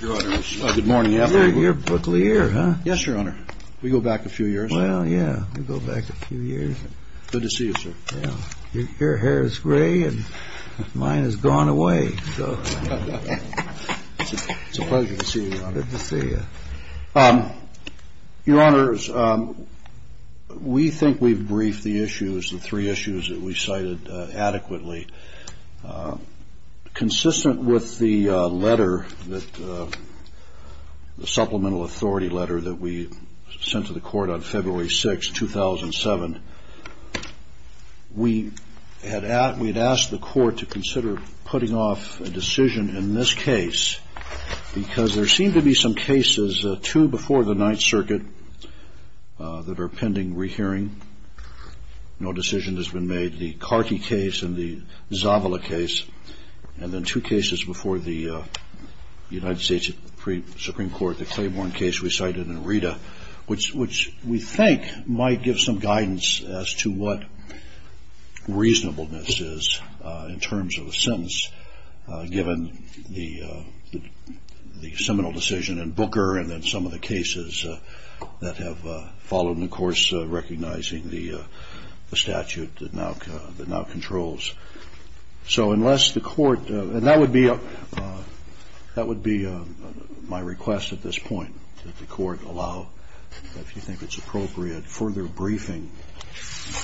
Good morning, Your Honor. We think we've briefed the three issues that we cited adequately. Consistent with the letter, the supplemental authority letter that we sent to the court on February 6, 2007, we had asked the court to consider putting off a decision in this case because there seem to be some cases, two before the Ninth Circuit, that are pending rehearing. No decision has been made. The Carty case and the Zavala case, and then two cases before the United States Supreme Court, the Claiborne case we cited in Rita, which we think might give some guidance as to what reasonableness is in terms of a sentence, given the seminal decision in Booker and then some of the cases that have followed and, of course, recognized by the Supreme Court. So unless the court, and that would be my request at this point, that the court allow, if you think it's appropriate, further briefing,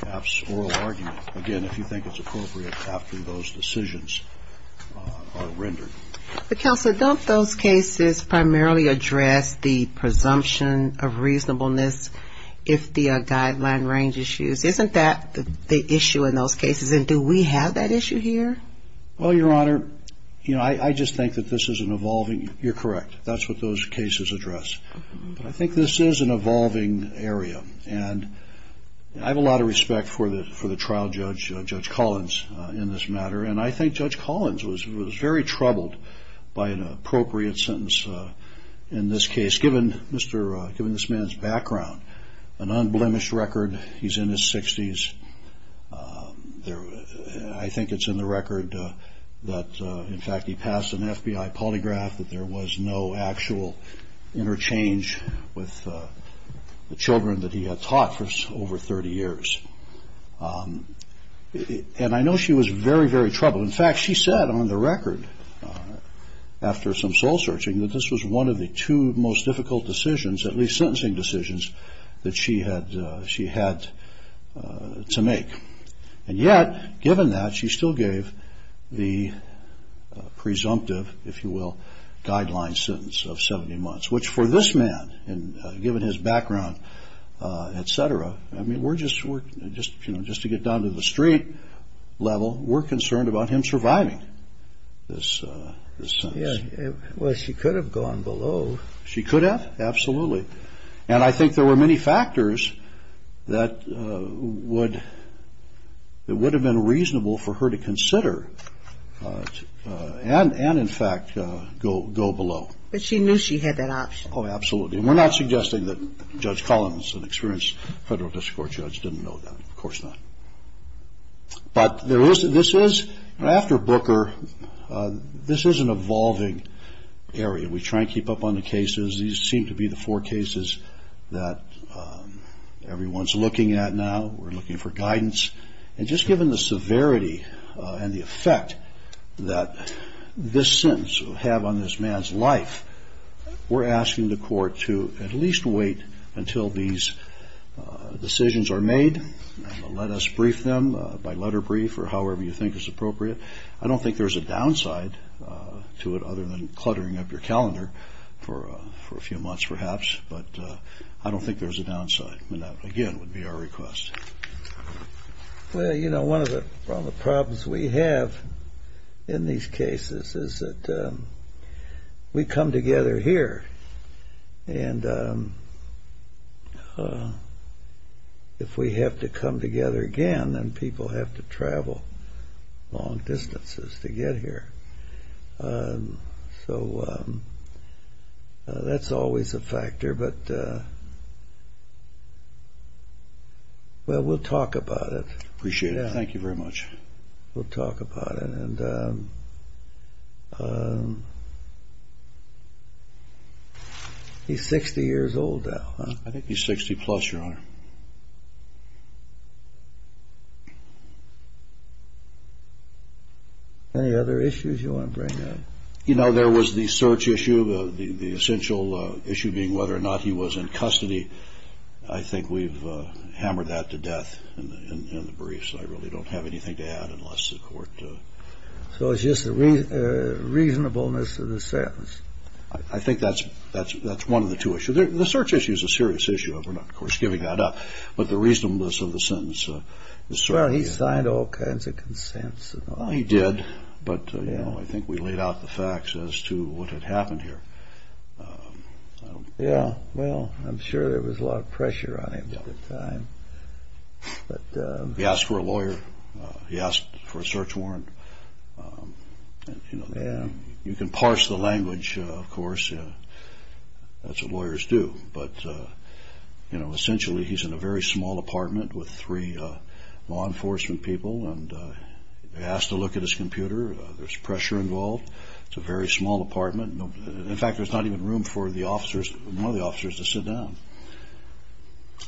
perhaps oral argument, again, if you think it's appropriate, after those decisions are rendered. But, Counselor, don't those cases primarily address the presumption of reasonableness if the guideline range is used? Isn't that the issue in those cases? And do we have that issue here? Well, Your Honor, you know, I just think that this is an evolving, you're correct, that's what those cases address. But I think this is an evolving area. And I have a lot of respect for the trial judge, Judge Collins, in this matter. And I think Judge Collins was very troubled by an appropriate sentence in this case, given this man's background, an unblemished record. He's in his 60s. I think it's in the record that, in fact, he passed an FBI polygraph, that there was no actual interchange with the children that he had taught for over 30 years. And I know she was very, very troubled. In fact, she said on the record, after some soul-searching, that this was one of the two most difficult decisions, at least sentencing decisions, that she had to make. And yet, given that, she still gave the presumptive, if you will, guideline sentence of 70 months. Which, for this man, given his background, et cetera, I mean, we're just, you know, just to get down to the street level, we're concerned about him surviving this sentence. Well, she could have gone below. She could have? Absolutely. And I think there were many factors that would have been reasonable for her to consider and, in fact, go below. But she knew she had that option. Oh, absolutely. And we're not suggesting that Judge Collins, an experienced federal district court judge, didn't know that. Of course not. But this is, after Booker, this is an evolving area. We try to keep up on the cases. These seem to be the four cases that everyone's looking at now. We're looking for guidance. And just given the severity and the effect that this sentence will have on this man's life, we're asking the court to at least wait until these decisions are made and let us brief them by letter brief or however you think is appropriate. I don't think there's a downside to it other than cluttering up your calendar for a few months, perhaps. But I don't think there's a downside. And that, again, would be our request. Well, you know, one of the problems we have in these cases is that we come together here. And if we have to come together again, then people have to travel long distances to get here. So that's always a factor. But, well, we'll talk about it. Appreciate it. Thank you very much. We'll talk about it. And he's 60 years old now, huh? I think he's 60-plus, Your Honor. Any other issues you want to bring up? You know, there was the search issue, the essential issue being whether or not he was in custody. I think we've hammered that to death in the briefs. I really don't have anything to add unless the court does. So it's just the reasonableness of the sentence. I think that's one of the two issues. The search issue is a serious issue. We're not, of course, giving that up. But the reasonableness of the sentence is certainly... Well, he signed all kinds of consents. Well, he did. But, you know, I think we laid out the facts as to what had happened here. Yeah, well, I'm sure there was a lot of pressure on him at the time. He asked for a lawyer. He asked for a search warrant. You know, you can parse the language, of course. That's what lawyers do. But, you know, essentially he's in a very small apartment with three law enforcement people. And they asked to look at his computer. There's pressure involved. It's a very small apartment. In fact, there's not even room for one of the officers to sit down.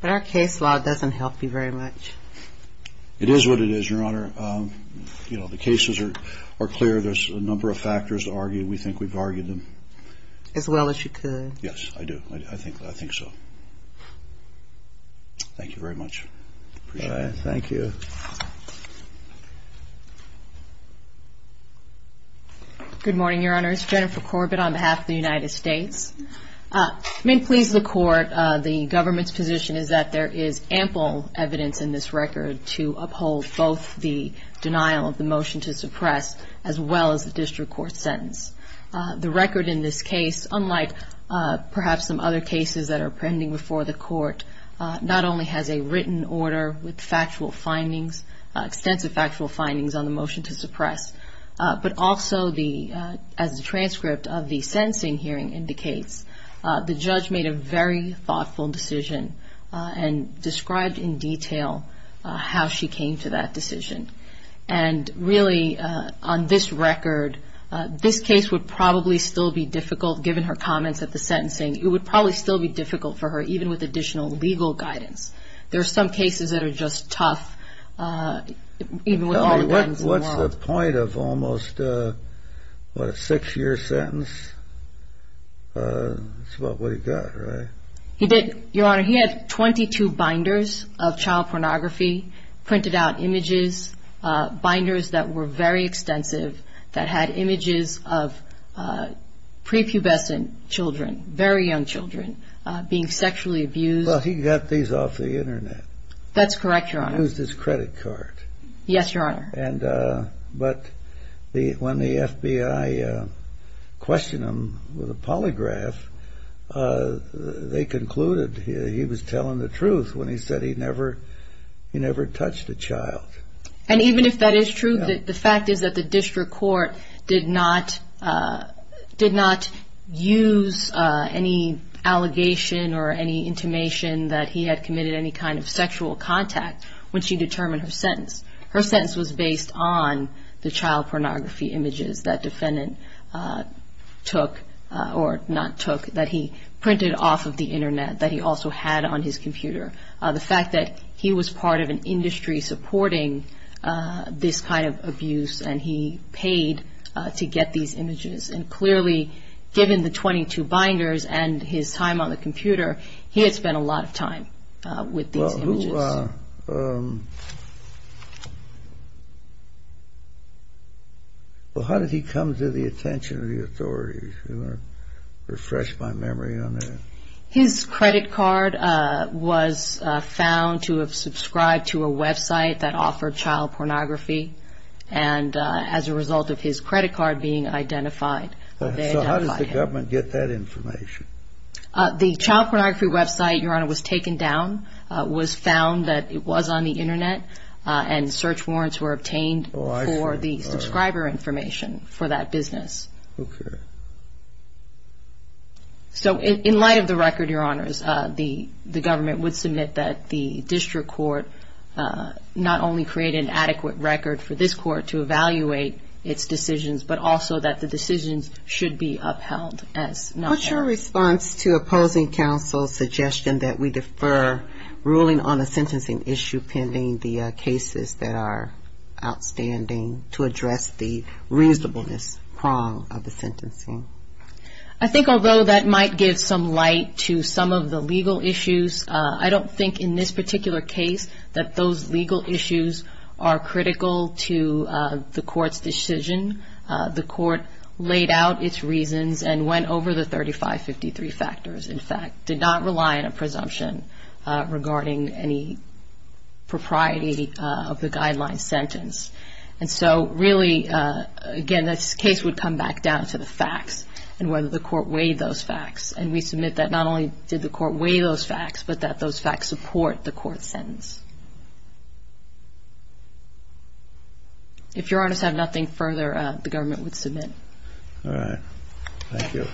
But our case law doesn't help you very much. It is what it is, Your Honor. You know, the cases are clear. There's a number of factors to argue. We think we've argued them. As well as you could. Yes, I do. I think so. Thank you very much. Appreciate it. Thank you. Good morning, Your Honor. It's Jennifer Corbett on behalf of the United States. It may please the Court, the government's position is that there is ample evidence in this record to uphold both the denial of the motion to suppress as well as the district court sentence. The record in this case, unlike perhaps some other cases that are pending before the Court, not only has a written order with factual findings, extensive factual findings on the motion to suppress, but also as the transcript of the sentencing hearing indicates, the judge made a very thoughtful decision and described in detail how she came to that decision. And really, on this record, this case would probably still be difficult, given her comments at the sentencing. It would probably still be difficult for her, even with additional legal guidance. There are some cases that are just tough, even with all the guidance in the world. It's the point of almost, what, a six-year sentence? That's about what he got, right? He did, Your Honor. He had 22 binders of child pornography, printed out images, binders that were very extensive, that had images of prepubescent children, very young children, being sexually abused. Well, he got these off the Internet. That's correct, Your Honor. He used his credit card. Yes, Your Honor. But when the FBI questioned him with a polygraph, they concluded he was telling the truth when he said he never touched a child. And even if that is true, the fact is that the district court did not use any allegation or any intimation that he had committed any kind of sexual contact when she determined her sentence. Her sentence was based on the child pornography images that defendant took, or not took, that he printed off of the Internet, that he also had on his computer. The fact that he was part of an industry supporting this kind of abuse, and he paid to get these images. And clearly, given the 22 binders and his time on the computer, he had spent a lot of time with these images. Well, how did he come to the attention of the authorities? I'm going to refresh my memory on that. His credit card was found to have subscribed to a website that offered child pornography. And as a result of his credit card being identified, they identified him. So how did the government get that information? The child pornography website, Your Honor, was taken down, was found that it was on the Internet, and search warrants were obtained for the subscriber information for that business. Okay. So in light of the record, Your Honors, the government would submit that the district court not only create an adequate record for this court to evaluate its decisions, but also that the decisions should be upheld. What's your response to opposing counsel's suggestion that we defer ruling on a sentencing issue, pending the cases that are outstanding, to address the reasonableness prong of the sentencing? I think although that might give some light to some of the legal issues, I don't think in this particular case that those legal issues are critical to the court's decision. The court laid out its reasons and went over the 3553 factors, in fact, did not rely on a presumption regarding any propriety of the guideline sentence. And so really, again, this case would come back down to the facts and whether the court weighed those facts. And we submit that not only did the court weigh those facts, but that those facts support the court's sentence. If Your Honors have nothing further, the government would submit. All right. Thank you.